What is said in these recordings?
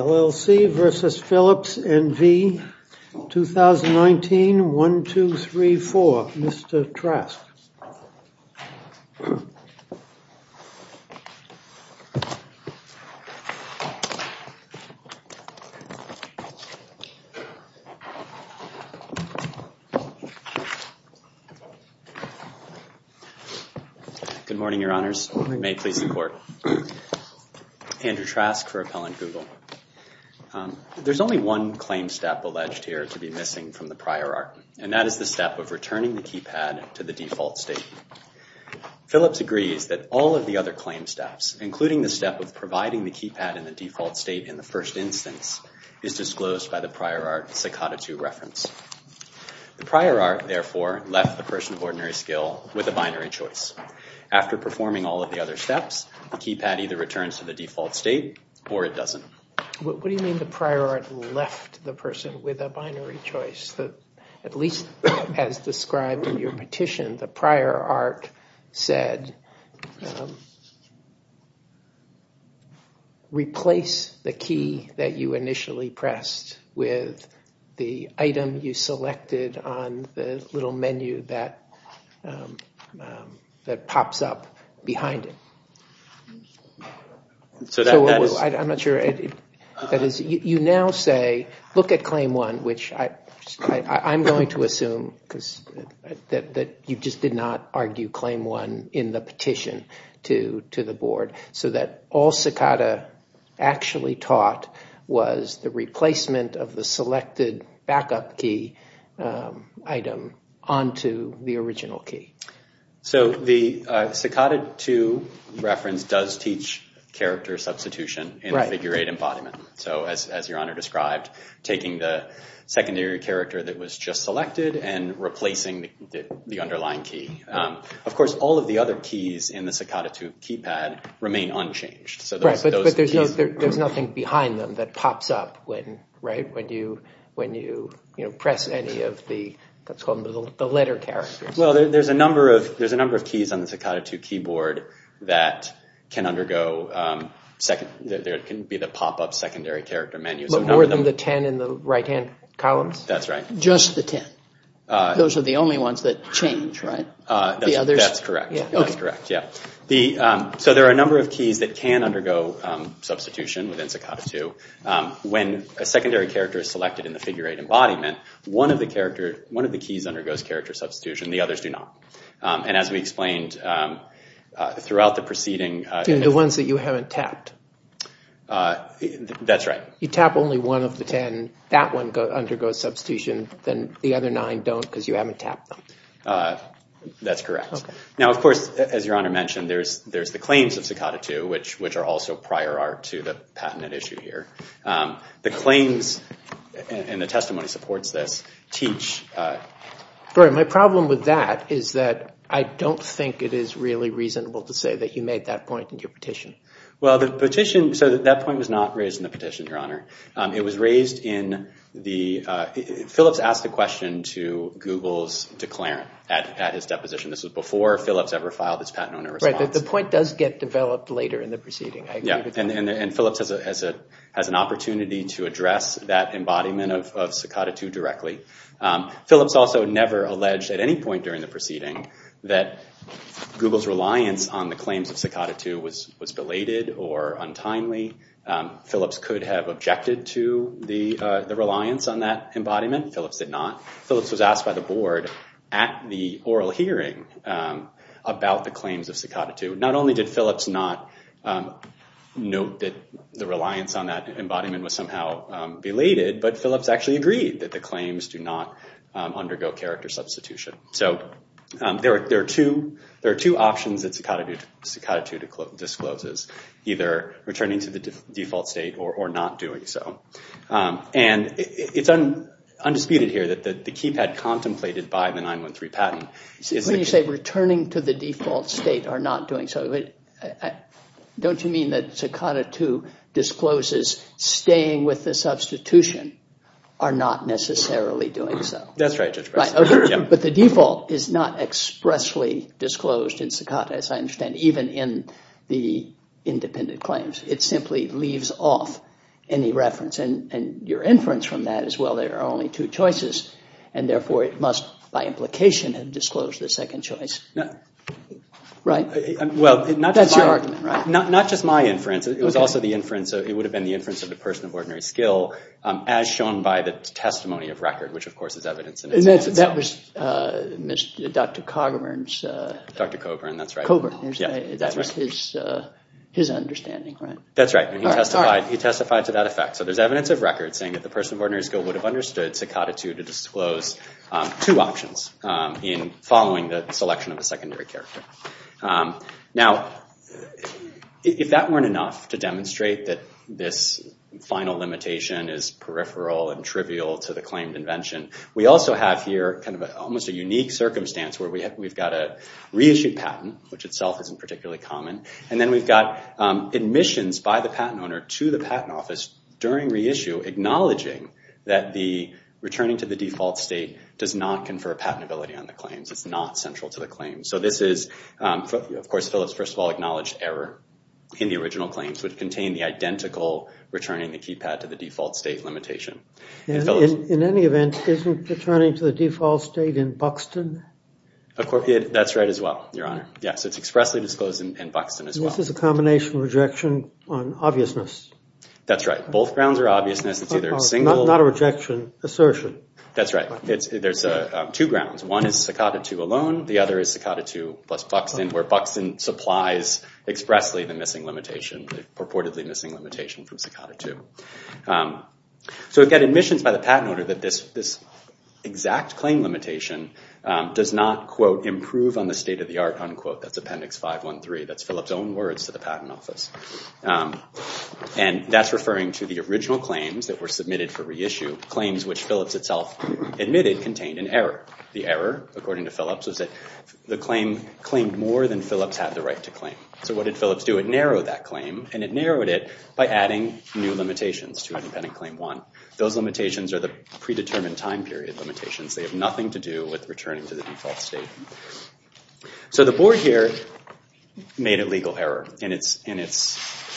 Our 2019 1, 2, 3, 4. Mr. Trask. Good morning, your honors. May it please the court. Andrew Trask for Appellant Google. There's only one claim step alleged here to be missing from the prior art, and that is the step of returning the keypad to the default state. Philips agrees that all of the other claim steps, including the step of providing the keypad in the default state in the first instance, is disclosed by the prior art Cicada II reference. The prior art, therefore, left the person of ordinary skill with a binary choice. After performing all of the other steps, the keypad either returns to the default state or it doesn't. What do you mean the prior art left the person with a binary choice? At least as described in your petition, the prior art said, replace the key that you initially pressed with the item you selected on the little menu that I'm going to assume that you just did not argue claim one in the petition to the board, so that all Cicada actually taught was the replacement of the selected backup key item onto the original key. So the Cicada II reference does teach character substitution in figure 8 bodyman. So as your honor described, taking the secondary character that was just selected and replacing the underlying key. Of course, all of the other keys in the Cicada II keypad remain unchanged. Right, but there's nothing behind them that pops up when you press any of the letter characters. Well, there's a number of keys on the Cicada II keyboard that can undergo, there can be the pop-up secondary character menu. But more than the 10 in the right-hand columns? That's right. Just the 10. Those are the only ones that change, right? That's correct. That's correct, yeah. So there are a number of keys that can undergo substitution within Cicada II. When a secondary character is selected in the figure 8 embodiment, one of the keys undergoes character substitution, the others do not. And as we explained throughout the preceding... The ones that you haven't tapped. That's right. You tap only one of the 10, that one undergoes substitution, then the other nine don't because you haven't tapped them. That's correct. Now, of course, as your honor mentioned, there's the claims of Cicada II, which are also prior art to the patent issue here. The claims, and the testimony supports this, teach... My problem with that is that I don't think it is really reasonable to say that you made that point in your petition. Well, the petition, so that point was not raised in the petition, your honor. It was raised in the... Phillips asked the question to Google's declarant at his deposition. This was before Phillips ever filed his patent owner response. The point does get developed later in the proceeding. Yeah, and Phillips has an opportunity to address that embodiment of Cicada II directly. Phillips also never alleged at any point during the proceeding that Google's reliance on the claims of Cicada II was belated or untimely. Phillips could have objected to the reliance on that embodiment. Phillips did not. Phillips was asked by the board at the oral hearing about the claims of Cicada II. Not only did Phillips not note that the reliance on that embodiment was somehow belated, but Phillips actually agreed that the claims do not undergo character substitution. So there are two options that Cicada II discloses, either returning to the default state or not doing so. And it's undisputed here that the keypad contemplated by the 913 patent... When you say returning to the default state or not doing so, don't you mean that Cicada II discloses staying with the substitution or not necessarily doing so? That's right, Judge Preston. But the default is not expressly disclosed in Cicada, as I understand, even in the independent claims. It simply leaves off any reference. And your inference from that is, well, there are only two choices, and therefore it must by implication have disclosed the second choice. That's your inference. It would have been the inference of the person of ordinary skill, as shown by the testimony of record, which of course is evidence in itself. And that was Dr. Coburn's... Dr. Coburn, that's right. That was his understanding, right? That's right. He testified to that effect. So there's evidence of record saying that the person of ordinary skill would have understood Cicada II to disclose two options in following the selection of a secondary character. Now, if that weren't enough to demonstrate that this final limitation is peripheral and trivial to the claimed invention, we also have here kind of almost a unique circumstance where we've got a reissued patent, which itself isn't particularly common. And then we've got admissions by the patent owner to the patent office during reissue acknowledging that the returning to the default state does not confer patentability on the claims. It's not central to the claim. So this is, of all acknowledged error in the original claims, would contain the identical returning the keypad to the default state limitation. In any event, isn't returning to the default state in Buxton? That's right as well, Your Honor. Yes, it's expressly disclosed in Buxton as well. This is a combination of rejection on obviousness. That's right. Both grounds are obviousness. It's either a single... Not a rejection, assertion. That's right. There's two grounds. One is Cicada 2 plus Buxton, where Buxton supplies expressly the missing limitation, purportedly missing limitation from Cicada 2. So we've got admissions by the patent owner that this exact claim limitation does not, quote, improve on the state of the art, unquote. That's Appendix 513. That's Phillips' own words to the patent office. And that's referring to the original claims that were submitted for reissue, claims which Phillips itself admitted contained an error. The error, according to Phillips, was that the claim claimed more than Phillips had the right to claim. So what did Phillips do? It narrowed that claim, and it narrowed it by adding new limitations to Independent Claim 1. Those limitations are the predetermined time period limitations. They have nothing to do with returning to the default state. So the board here made a legal error in its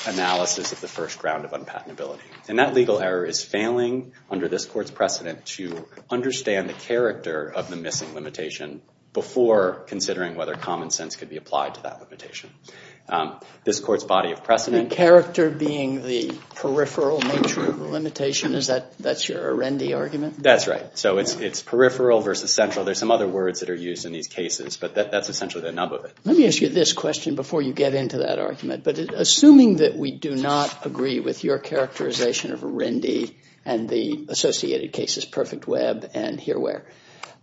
analysis of the first ground of unpatentability. And that legal error is failing under this court's precedent to understand the before considering whether common sense could be applied to that limitation. This court's body of precedent. Character being the peripheral nature of the limitation, is that that's your Arendi argument? That's right. So it's peripheral versus central. There's some other words that are used in these cases, but that's essentially the nub of it. Let me ask you this question before you get into that argument. But assuming that we do not agree with your characterization of Arendi and the associated cases, Perfect Web and Herewhere,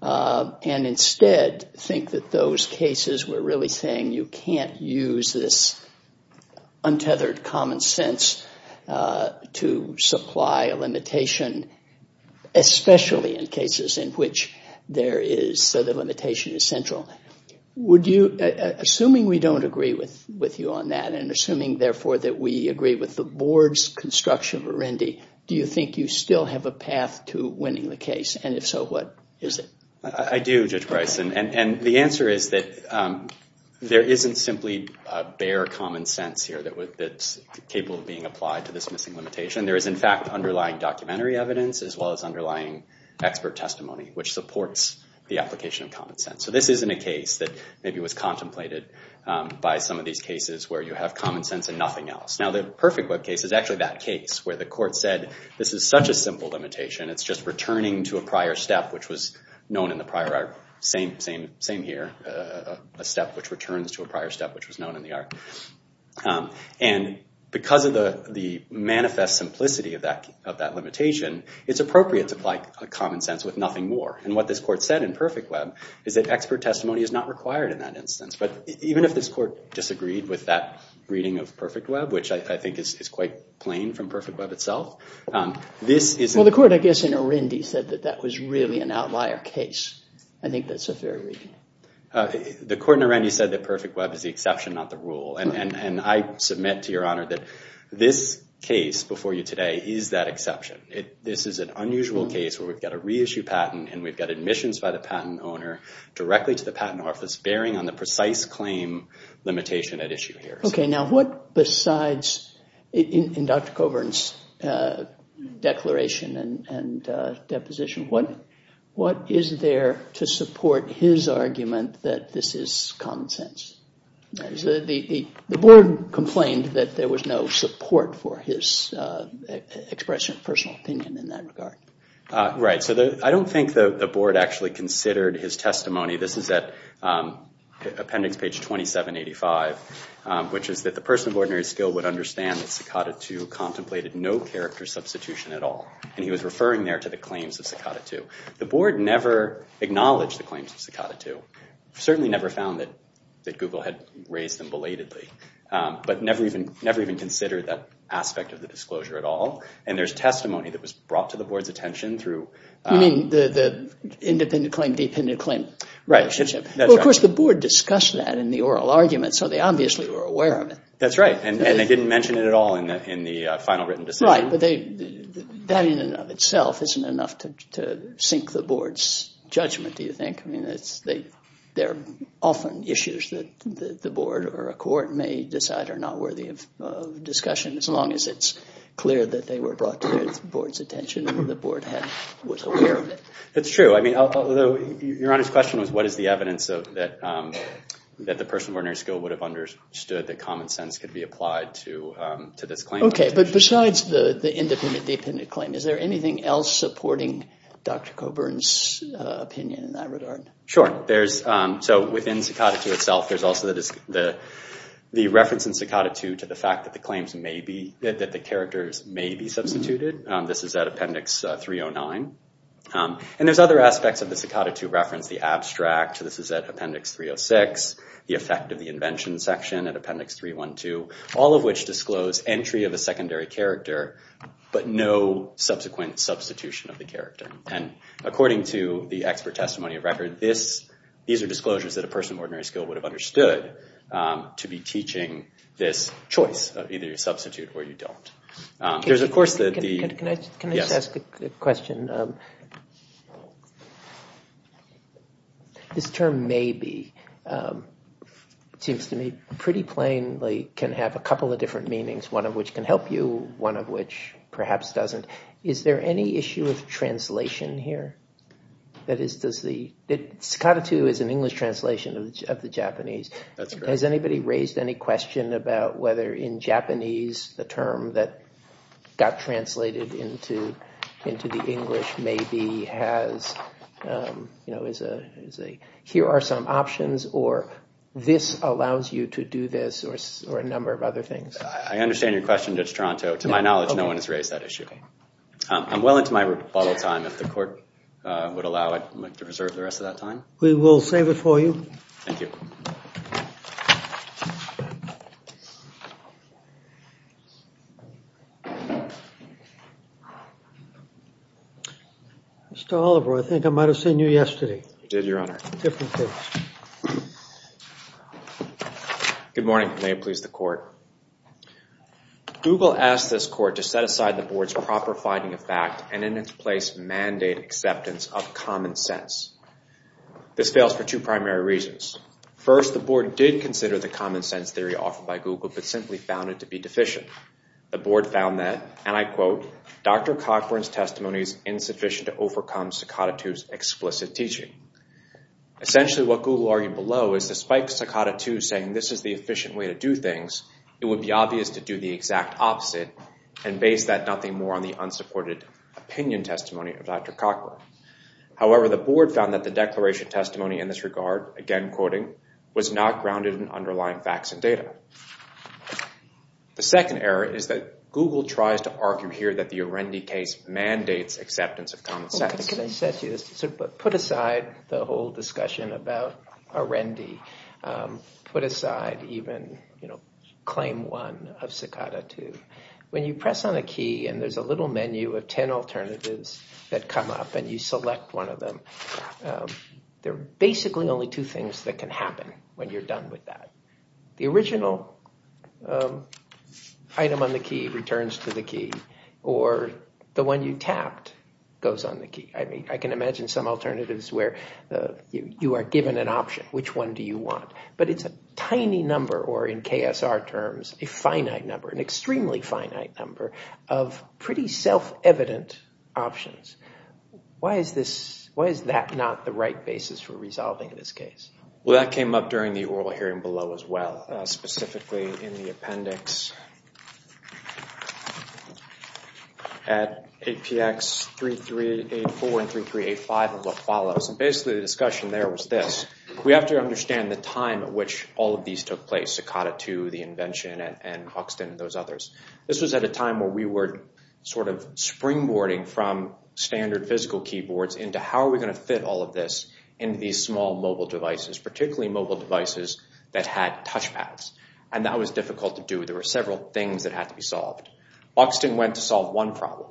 and instead think that those cases were really saying you can't use this untethered common sense to supply a limitation, especially in cases in which the limitation is central. Assuming we don't agree with you on that, and assuming have a path to winning the case. And if so, what is it? I do, Judge Bryce. And the answer is that there isn't simply a bare common sense here that's capable of being applied to this missing limitation. There is in fact underlying documentary evidence, as well as underlying expert testimony, which supports the application of common sense. So this isn't a case that maybe was contemplated by some of these cases where you have common sense and nothing else. Now the Perfect Web case is actually that case where the court said this is such a simple limitation, it's just returning to a prior step which was known in the prior art. Same here, a step which returns to a prior step which was known in the art. And because of the manifest simplicity of that limitation, it's appropriate to apply a common sense with nothing more. And what this court said in Perfect Web is that expert testimony is not required in that instance. But even if this court disagreed with that reading of Perfect Web, which I think is quite plain from Perfect Web itself, this is... Well, the court, I guess, in Arundi said that that was really an outlier case. I think that's a fair reading. The court in Arundi said that Perfect Web is the exception, not the rule. And I submit to Your Honor that this case before you today is that exception. This is an unusual case where we've got a reissue patent and we've got admissions by the patent owner directly to the patent office bearing on the precise claim limitation at issue here. Okay, now what besides, in Dr. Coburn's declaration and deposition, what is there to support his argument that this is common sense? The board complained that there was no support for his expression of personal opinion in that regard. Right, so I don't think the board actually considered his testimony. This is at appendix page 2785, which is that the person of ordinary skill would understand that Cicada 2 contemplated no character substitution at all. And he was referring there to the claims of Cicada 2. The board never acknowledged the claims of Cicada 2, certainly never found that Google had raised them belatedly, but never even considered that aspect of the disclosure at all. And there's You mean the independent claim-dependent claim relationship. Of course, the board discussed that in the oral argument, so they obviously were aware of it. That's right, and they didn't mention it at all in the final written decision. Right, but that in and of itself isn't enough to sink the board's judgment, do you think? I mean, they're often issues that the board or a court may decide are not worthy of discussion, as long as it's clear that they were brought to the board's attention and the board was aware of it. That's true. I mean, Your Honor's question was what is the evidence that the person of ordinary skill would have understood that common sense could be applied to this claim. Okay, but besides the independent-dependent claim, is there anything else supporting Dr. Coburn's opinion in that regard? Sure, so within Cicada 2 itself, there's also the reference in Cicada 2 to the fact that the claims may be, that the characters may be appendix 309. And there's other aspects of the Cicada 2 reference, the abstract, this is at appendix 306, the effect of the invention section at appendix 312, all of which disclose entry of a secondary character, but no subsequent substitution of the character. And according to the expert testimony of record, these are disclosures that a person of ordinary skill would have understood to be teaching this choice, either you substitute or you don't. Can I just ask a question? This term may be, seems to me, pretty plainly can have a couple of different meanings, one of which can help you, one of which perhaps doesn't. Is there any issue of translation here? That is, does the, Cicada 2 is an English translation of the Japanese. Has anybody raised any question about whether in Japanese the term that got translated into the English maybe has, you know, is a, here are some options, or this allows you to do this, or a number of other things. I understand your question, Judge Toronto. To my knowledge, no one has raised that issue. I'm well into my bottle time. If the court would allow it, I'd like to reserve the rest of that time. We will save it for you. Thank you. Mr. Oliver, I think I might have seen you yesterday. You did, Your Honor. Good morning. May it please the court. Google asked this court to set aside the board's proper finding of fact and in its place mandate acceptance of common sense. This fails for two primary reasons. First, the board did consider the common sense theory offered by Google, but simply found it to be deficient. The board found that, and I quote, Dr. Cockburn's testimony is insufficient to overcome Cicada 2's explicit teaching. Essentially, what Google argued below is despite Cicada 2 saying this is the efficient way to do things, it would be obvious to do the exact opposite and base that nothing more on the unsupported opinion testimony of Dr. Cockburn. However, the board found that the declaration testimony in this regard, again quoting, was not grounded in underlying facts and data. The second error is that Google tries to argue here that the Arendi case mandates acceptance of common sense. So put aside the whole discussion about Arendi. Put aside even claim one of Cicada 2. When you press on a key and there's a little menu of 10 alternatives that come up and you select one of them, there are basically only two things that can happen when you're done with that. The original item on the key returns to the key or the one you tapped goes on the key. I mean, I can imagine some alternatives where you are given an option, which one do you want? But it's a tiny number or in KSR terms, a finite number, an extremely finite number of pretty self-evident options. Why is that not the right basis for resolving this case? Well, that came up during the oral hearing below as well, specifically in the appendix at APX 3384 and 3385 of what follows. And basically the discussion there was this. We have to understand the time at which all of these took place, Cicada 2, the invention, and Hoxton and those others. This was at a time where we were sort of springboarding from standard physical keyboards into how are we going to fit all of this into these small mobile devices, particularly mobile devices that had touchpads. And that was difficult to do. There were several things that had to be solved. Hoxton went to solve one problem.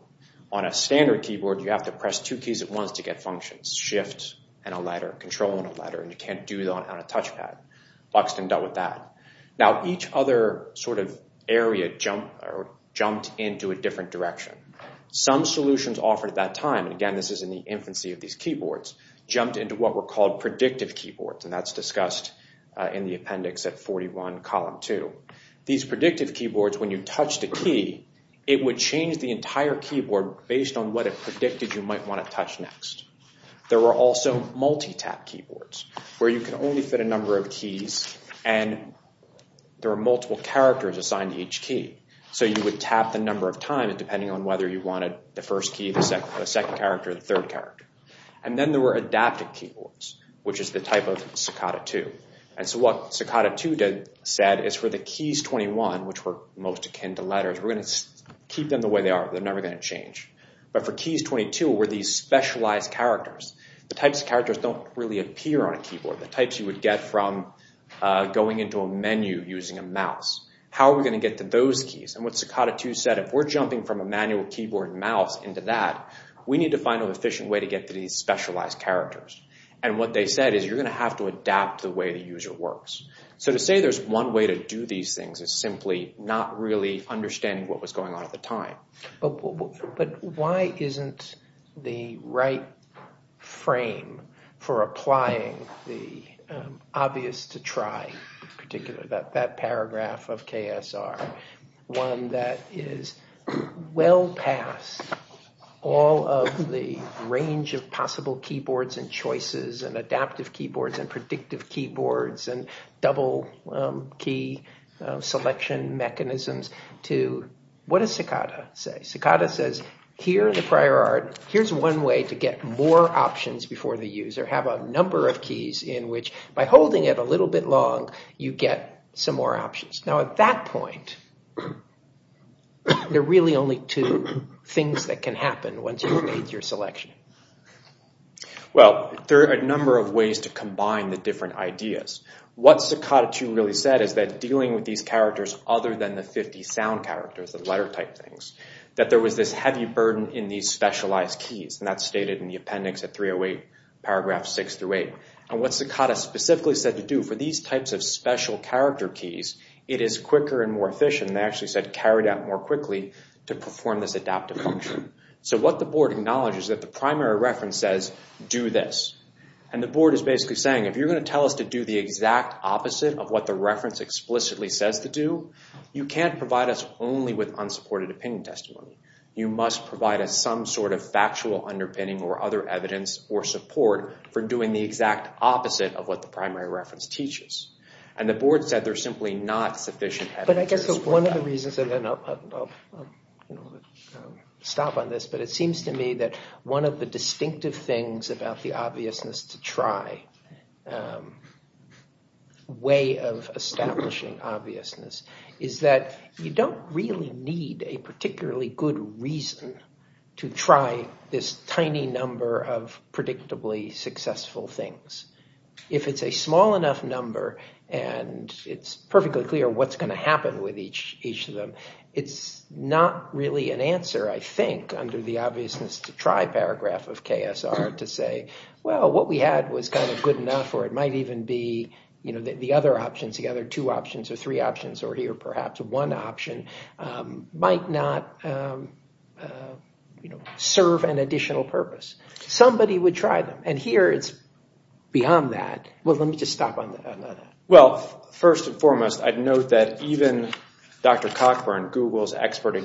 On a standard keyboard, you have to press two keys at once to get functions, shift and a letter, control and a letter, and you can't do that on a touchpad. Hoxton dealt with that. Now each other sort of area jumped into a different direction. Some solutions offered at that time, and again, this is in the infancy of these keyboards, jumped into what were called predictive keyboards, and that's discussed in the appendix at 41 column 2. These predictive keyboards, when you touch the key, it would change the entire keyboard based on what it predicted you might want to touch next. There were also multi-tap keyboards where you can only fit a number of keys, and there are multiple characters assigned to each key. So you would tap the number of times, depending on whether you wanted the first key, the second character, the third character. And then there were adaptive keyboards, which is the type of Sakata 2. And so what Sakata 2 said is for the keys 21, which were most akin to letters, we're going to keep them the way they are. They're never going to change. But for keys 22, where these specialized characters, the types of characters don't really appear on a keyboard. The types you would get from going into a menu using a mouse. How are we going to get to those keys? And what Sakata 2 said, if we're jumping from a manual keyboard and mouse into that, we need to find an efficient way to get to these specialized characters. And what they said is you're going to have to adapt the way the user works. So to say there's one way to do these things is simply not really understanding what was going on at the time. But why isn't the right one that is well past all of the range of possible keyboards and choices and adaptive keyboards and predictive keyboards and double key selection mechanisms to what does Sakata say? Sakata says here in the prior art, here's one way to get more options before the user have a number of keys in which by holding it a little bit long, you get some more options. Now at that point, there are really only two things that can happen once you've made your selection. Well, there are a number of ways to combine the different ideas. What Sakata 2 really said is that dealing with these characters other than the 50 sound characters, the letter type things, that there was this heavy burden in these specialized keys. And that's stated in the appendix at 308, paragraph six through eight. And what Sakata specifically said to do for these types of special character keys, it is quicker and more efficient. They actually said carried out more quickly to perform this adaptive function. So what the board acknowledges that the primary reference says, do this. And the board is basically saying if you're going to tell us to do the exact opposite of what the reference explicitly says to do, you can't provide us only with unsupported opinion testimony. You must provide us some sort of factual underpinning or other evidence or support for doing the exact opposite of what the primary reference teaches. And the board said there's simply not sufficient evidence to support that. So one of the reasons, and then I'll stop on this, but it seems to me that one of the distinctive things about the obviousness to try way of establishing obviousness is that you don't really need a particularly good reason to try this tiny number of predictably successful things. If it's a small enough number and it's perfectly clear what's going to happen with each of them, it's not really an answer, I think, under the obviousness to try paragraph of KSR to say, well, what we had was kind of good enough or it might even be the other options, the other two options or three options or here perhaps one option might not serve an additional purpose. Somebody would try them. And here it's beyond that. Well, let me just stop on that. Well, first and foremost, I'd note that even Dr. Cockburn, Google's expert,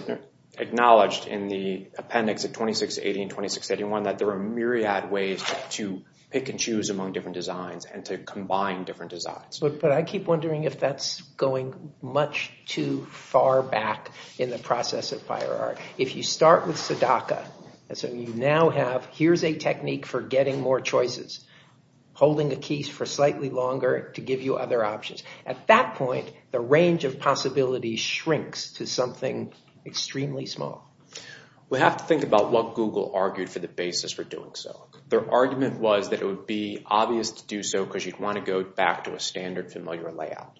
acknowledged in the appendix of 2680 and 2681 that there are a myriad of ways to pick and choose among different designs and to combine different designs. But I keep wondering if that's going much too far back in the process of prior art. If you start with Sadaka, so you now have here's a technique for getting more choices, holding the keys for slightly longer to give you other options. At that point, the range of possibilities shrinks to something extremely small. We have to think about what Google argued for the basis for doing so. Their argument was that it would be obvious to do so because you'd want to go back to a standard familiar layout.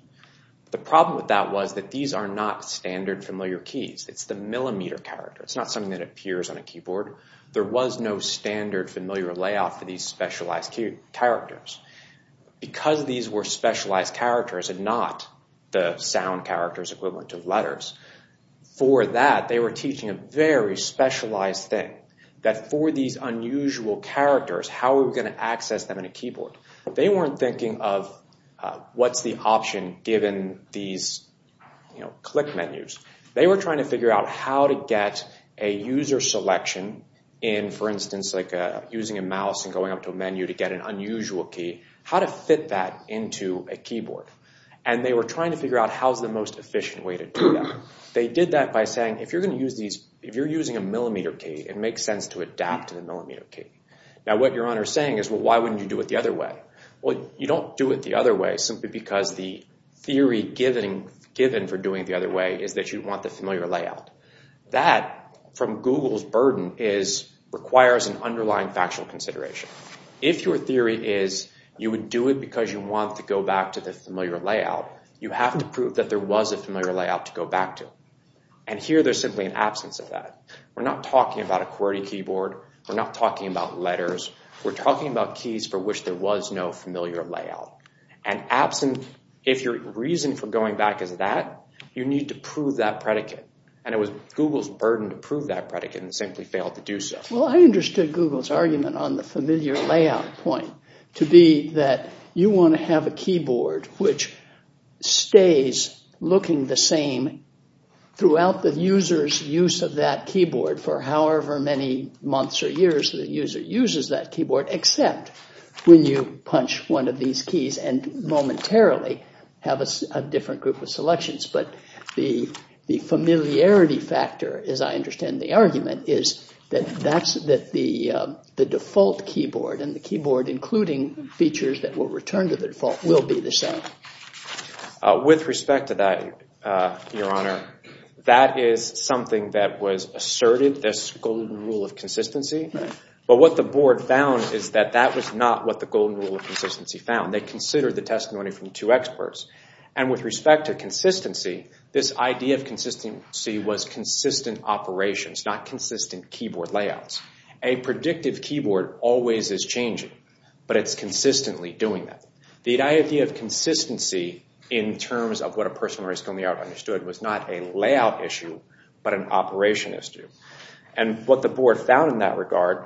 The problem with that was that these are not standard familiar keys. It's the millimeter character. It's not something that appears on a keyboard. There was no standard familiar layout for these specialized characters. Because these were specialized characters and not the sound characters equivalent to letters, for that, they were teaching a very specialized thing. That for these unusual characters, how are we going to access them in a keyboard? They weren't thinking of what's the option given these click menus. They were trying to figure out how to get a user selection in, for instance, using a mouse and going up to a menu to get an unusual key, how to fit that into a keyboard. And they were trying to figure out how's the most efficient way to do that. They did that by saying, if you're using a millimeter key, it makes sense to adapt to the millimeter key. Now what you're saying is, well, why wouldn't you do it the other way? Well, you don't do it the other way simply because the theory given for doing it the other way is that you'd want the familiar layout. That, from Google's burden, requires an underlying factual consideration. If your theory is you would do it because you want to go back to the familiar layout, you have to prove that there was a familiar layout to go back to. And here there's simply an absence of that. We're not talking about a QWERTY keyboard. We're not talking about letters. We're talking about keys for which there was no familiar layout. And absent, if your reason for going back is that, you need to prove that predicate. And it was Google's burden to prove that predicate and simply failed to do so. Well, I understood Google's argument on the familiar layout point to be that you want to have a keyboard which stays looking the same throughout the user's use of that keyboard for however many months or years the user uses that keyboard except when you punch one of these keys and momentarily have a different group of selections. But the familiarity factor, as I understand the argument, is that the default keyboard and the keyboard including features that will return to the default will be the same. With respect to that, your honor, that is something that was asserted, this golden rule of consistency. But what the board found is that that was not what the golden rule of consistency found. They considered the testimony from two experts. And with respect to consistency, this idea of consistency was consistent operations, not consistent keyboard layouts. A predictive keyboard always is changing, but it's consistently doing that. The idea of consistency in terms of what a person was coming out understood was not a layout issue, but an operation issue. And what the board found in that regard,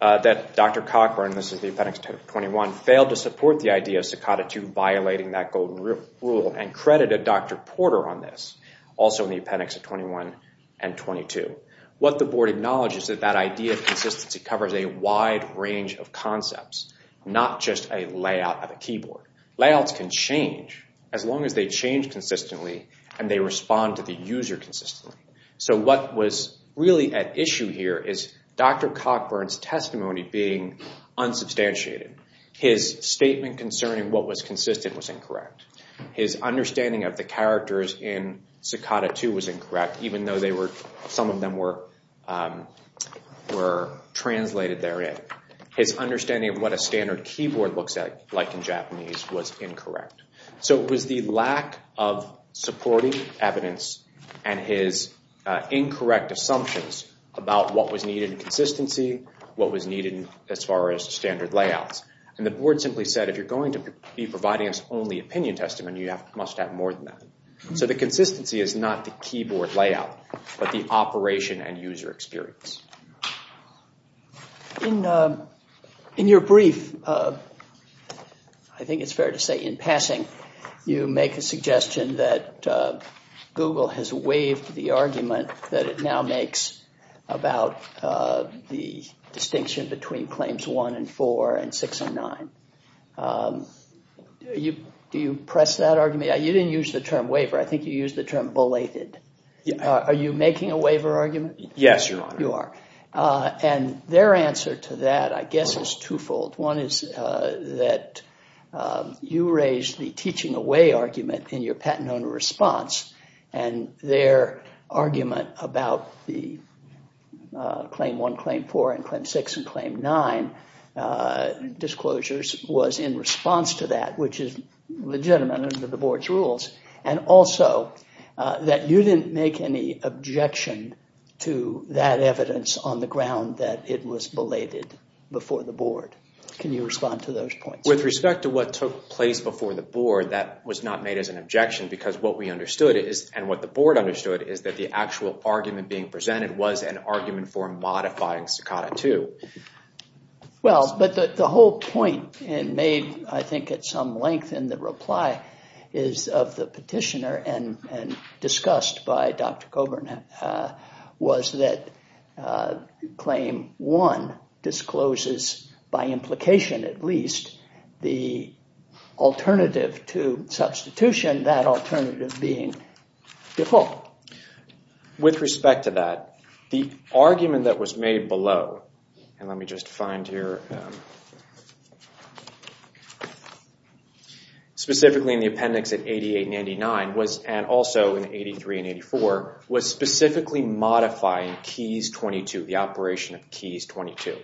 that Dr. Cockburn, this is the appendix 21, failed to support the idea of Cicada II violating that golden rule and credited Dr. Porter on this, also in the appendix 21 and 22. What the board acknowledges is that idea of consistency covers a wide range of concepts, not just a layout of a keyboard. Layouts can change as long as they change consistently and they respond to the user consistently. So what was really at issue here is Dr. Cockburn's testimony being unsubstantiated. His statement concerning what was consistent was incorrect. His understanding of the characters in Cicada II was incorrect, even though some of them were translated therein. His understanding of what a standard keyboard looks like in Japanese was incorrect. So it was the lack of supporting evidence and his incorrect assumptions about what was needed in consistency, what was needed as far as standard layouts. And the board simply said, if you're going to be providing us only opinion testimony, you must have more than that. So the consistency is not the keyboard layout, but the operation and user experience. In your brief, I think it's fair to say in passing, you make a suggestion that Google has waived the argument that it now makes about the distinction between Claims 1 and 4 and 6 and 9. Do you press that argument? You didn't use the term waiver. I think you used the term belated. Are you making a waiver argument? Yes, Your Honor. And their answer to that, I guess, is twofold. One is that you raised the teaching away argument in your patent owner response, and their argument about the Claim 1, Claim 4, and Claim 6, and Claim 9 disclosures was in response to that, which is legitimate under the board's rules. And also, that you didn't make any objection to that evidence on the ground that it was belated before the board. Can you respond to those points? With respect to what took place before the board, that was not made as an objection, because what we understood, and what the board understood, is that the actual argument being presented was an argument for modifying Staccato 2. Well, but the whole point made, I think, at some length in the reply is of the petitioner, and discussed by Dr. Coburn, was that Claim 1 discloses, by implication at least, the alternative to substitution, that alternative being default. With respect to that, the argument that was made below, and let me just find here, specifically in the appendix at 88 and 89, and also in 83 and 84, was specifically modifying Keys 22, the operation of Keys 22.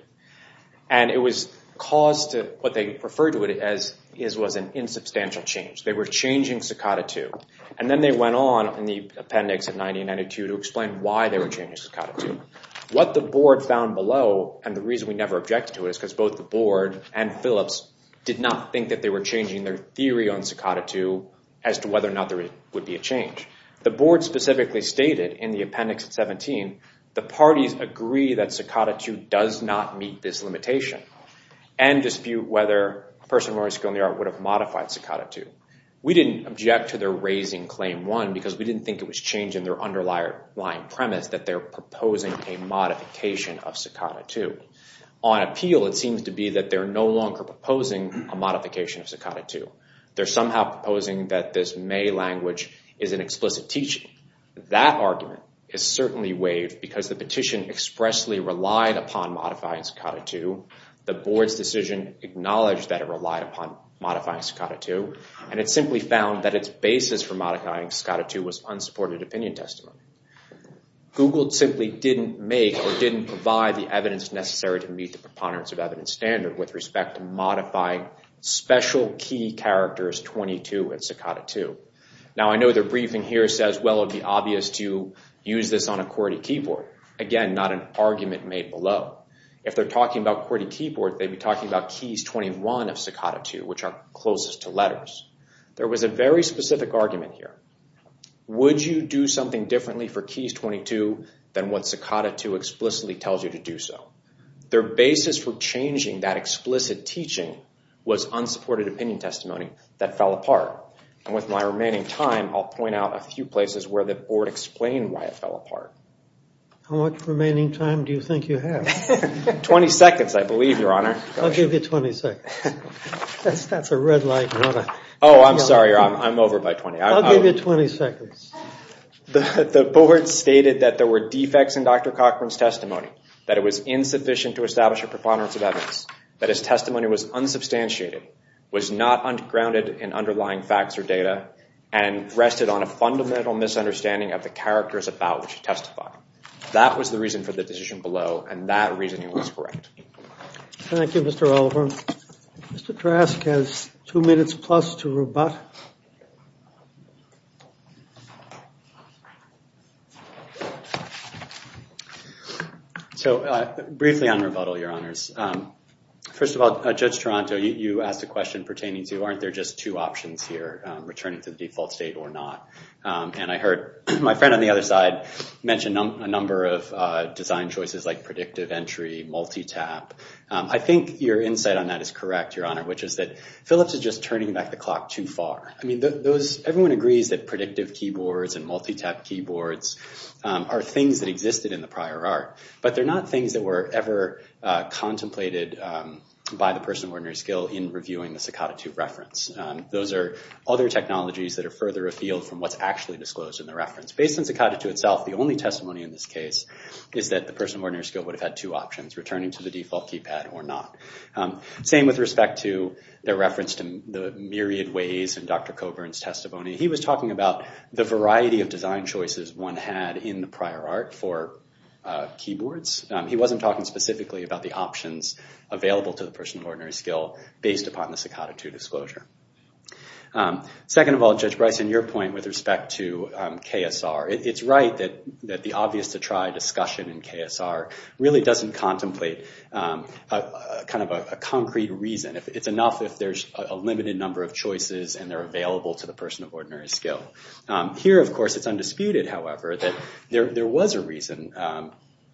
And it was caused, what they referred to it as, was an insubstantial change. They were changing Staccato 2. And then they went on, in the appendix at 90 and 92, to explain why they were changing Staccato 2. What the board found below, and the reason we never objected to it, is because both the board and Phillips did not think that they were changing their theory on Staccato 2, as to whether or not there would be a change. The board specifically stated, in the appendix at 17, the parties agree that Staccato 2 does not meet this limitation, and dispute whether a person with a learning skill in the art would have modified Staccato 2. We didn't object to their raising Claim 1, because we didn't think it was changing their underlying premise that they're proposing a modification of Staccato 2. On appeal, it seems to be that they're no longer proposing a modification of Staccato 2. They're somehow proposing that this May language is an explicit teaching. That argument is certainly waived, because the petition expressly relied upon modifying Staccato 2. The board's decision acknowledged that it relied upon modifying Staccato 2, and it simply found that its basis for modifying Staccato 2 was unsupported opinion testimony. Google simply didn't make or didn't provide the evidence necessary to meet the preponderance of evidence standard with respect to modifying special key characters 22 in Staccato 2. Now, I know their briefing here says, well, it would be obvious to use this on a QWERTY keyboard. Again, not an argument made below. If they're talking about QWERTY keyboard, they'd be talking about keys 21 of Staccato 2, which are closest to letters. There was a very specific argument here. Would you do something differently for keys 22 than what Staccato 2 explicitly tells you to do so? Their basis for changing that explicit teaching was unsupported opinion testimony that fell apart. And with my remaining time, I'll point out a few places where the board explained why it fell apart. How much remaining time do you think you have? 20 seconds, I believe, Your Honor. I'll give you 20 seconds. That's a red light. Oh, I'm sorry, Your Honor. I'm over by 20. I'll give you 20 seconds. The board stated that there were defects in Dr. Cochran's testimony, that it was insufficient to establish a preponderance of evidence, that his testimony was unsubstantiated, was not grounded in underlying facts or data, and rested on a fundamental misunderstanding of the characters about which he testified. That was the reason for the decision below, and that reasoning was correct. Thank you, Mr. Oliver. Mr. Trask has two minutes plus to rebut. So briefly on rebuttal, Your Honors. First of all, Judge Toronto, you asked a question pertaining to aren't there just two options here, returning to the default state or not? And I heard my friend on the other side mention a number of design choices like predictive entry, multi-tap. I think your insight on that is correct, Your Honor, which is that Philips is just turning back the clock too far. I mean, everyone agrees that predictive keyboards and multi-tap keyboards are things that existed in the prior art, but they're not things that were ever contemplated by the person of ordinary skill in reviewing the Sakata II reference. Those are other technologies that are further afield from what's actually disclosed in the reference. Based on Sakata II itself, the only testimony in this case is that the person of ordinary skill would have had two options, returning to the default keypad or not. Same with respect to their reference to the myriad ways in Dr. Coburn's testimony. He was talking about the variety of design choices one had in the prior art for keyboards. He wasn't talking specifically about the options available to the person of ordinary skill based upon the Sakata II disclosure. Second of all, Judge Bryson, your point with respect to KSR. It's right that the obvious-to-try discussion in KSR really doesn't contemplate kind of a concrete reason. It's enough if there's a limited number of choices and they're available to the person of ordinary skill. Here, of course, it's undisputed, however, that there was a reason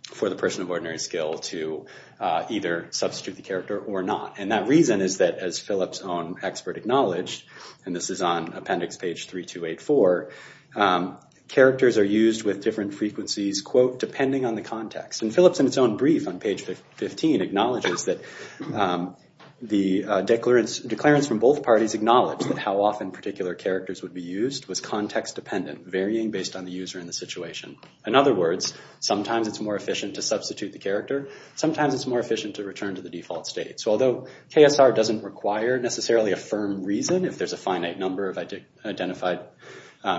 for the person of ordinary skill to either substitute the character or not. And that reason is that as Phillips' own expert acknowledged, and this is on appendix page 3284, characters are used with different frequencies, quote, depending on the context. And Phillips, in its own brief on page 15, acknowledges that the declarants from both parties acknowledged that how often particular characters would be used was context-dependent, varying based on the user and the situation. In other words, sometimes it's more efficient to substitute the character. Sometimes it's more efficient to return to the default state. So although KSR doesn't require necessarily a firm reason, if there's a finite number of identified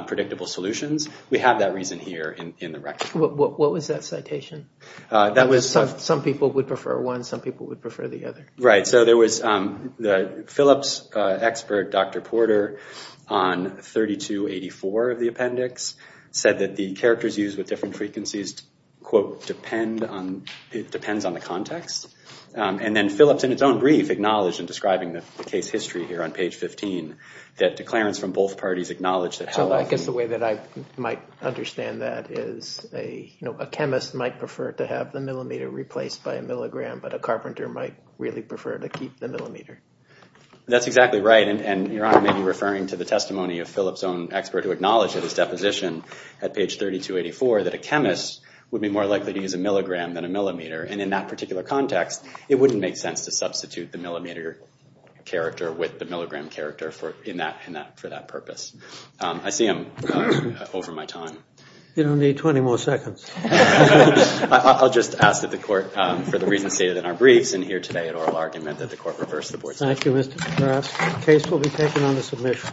predictable solutions, we have that reason here in the record. What was that citation? Some people would prefer one. Some people would prefer the other. Right, so there was Phillips' expert, Dr. Porter, on 3284 of the appendix, said that the characters used with different frequencies, quote, depend on the context. And then Phillips, in its own brief, acknowledged in describing the case history here on page 15, that declarants from both parties acknowledged that how often- So I guess the way that I might understand that is a chemist might prefer to have the millimeter replaced by a milligram, but a carpenter might really prefer to keep the millimeter. That's exactly right, and Your Honor may be referring to the testimony of Phillips' own expert, who acknowledged in his deposition at page 3284 that a chemist would be more likely to use a milligram than a millimeter. And in that particular context, it wouldn't make sense to substitute the millimeter character with the milligram character for that purpose. I see him over my time. You don't need 20 more seconds. I'll just ask that the court, for the reasons stated in our briefs, and here today at oral argument, that the court reverse the board's decision. Thank you, Mr. Kraft. The case will be taken on the submission.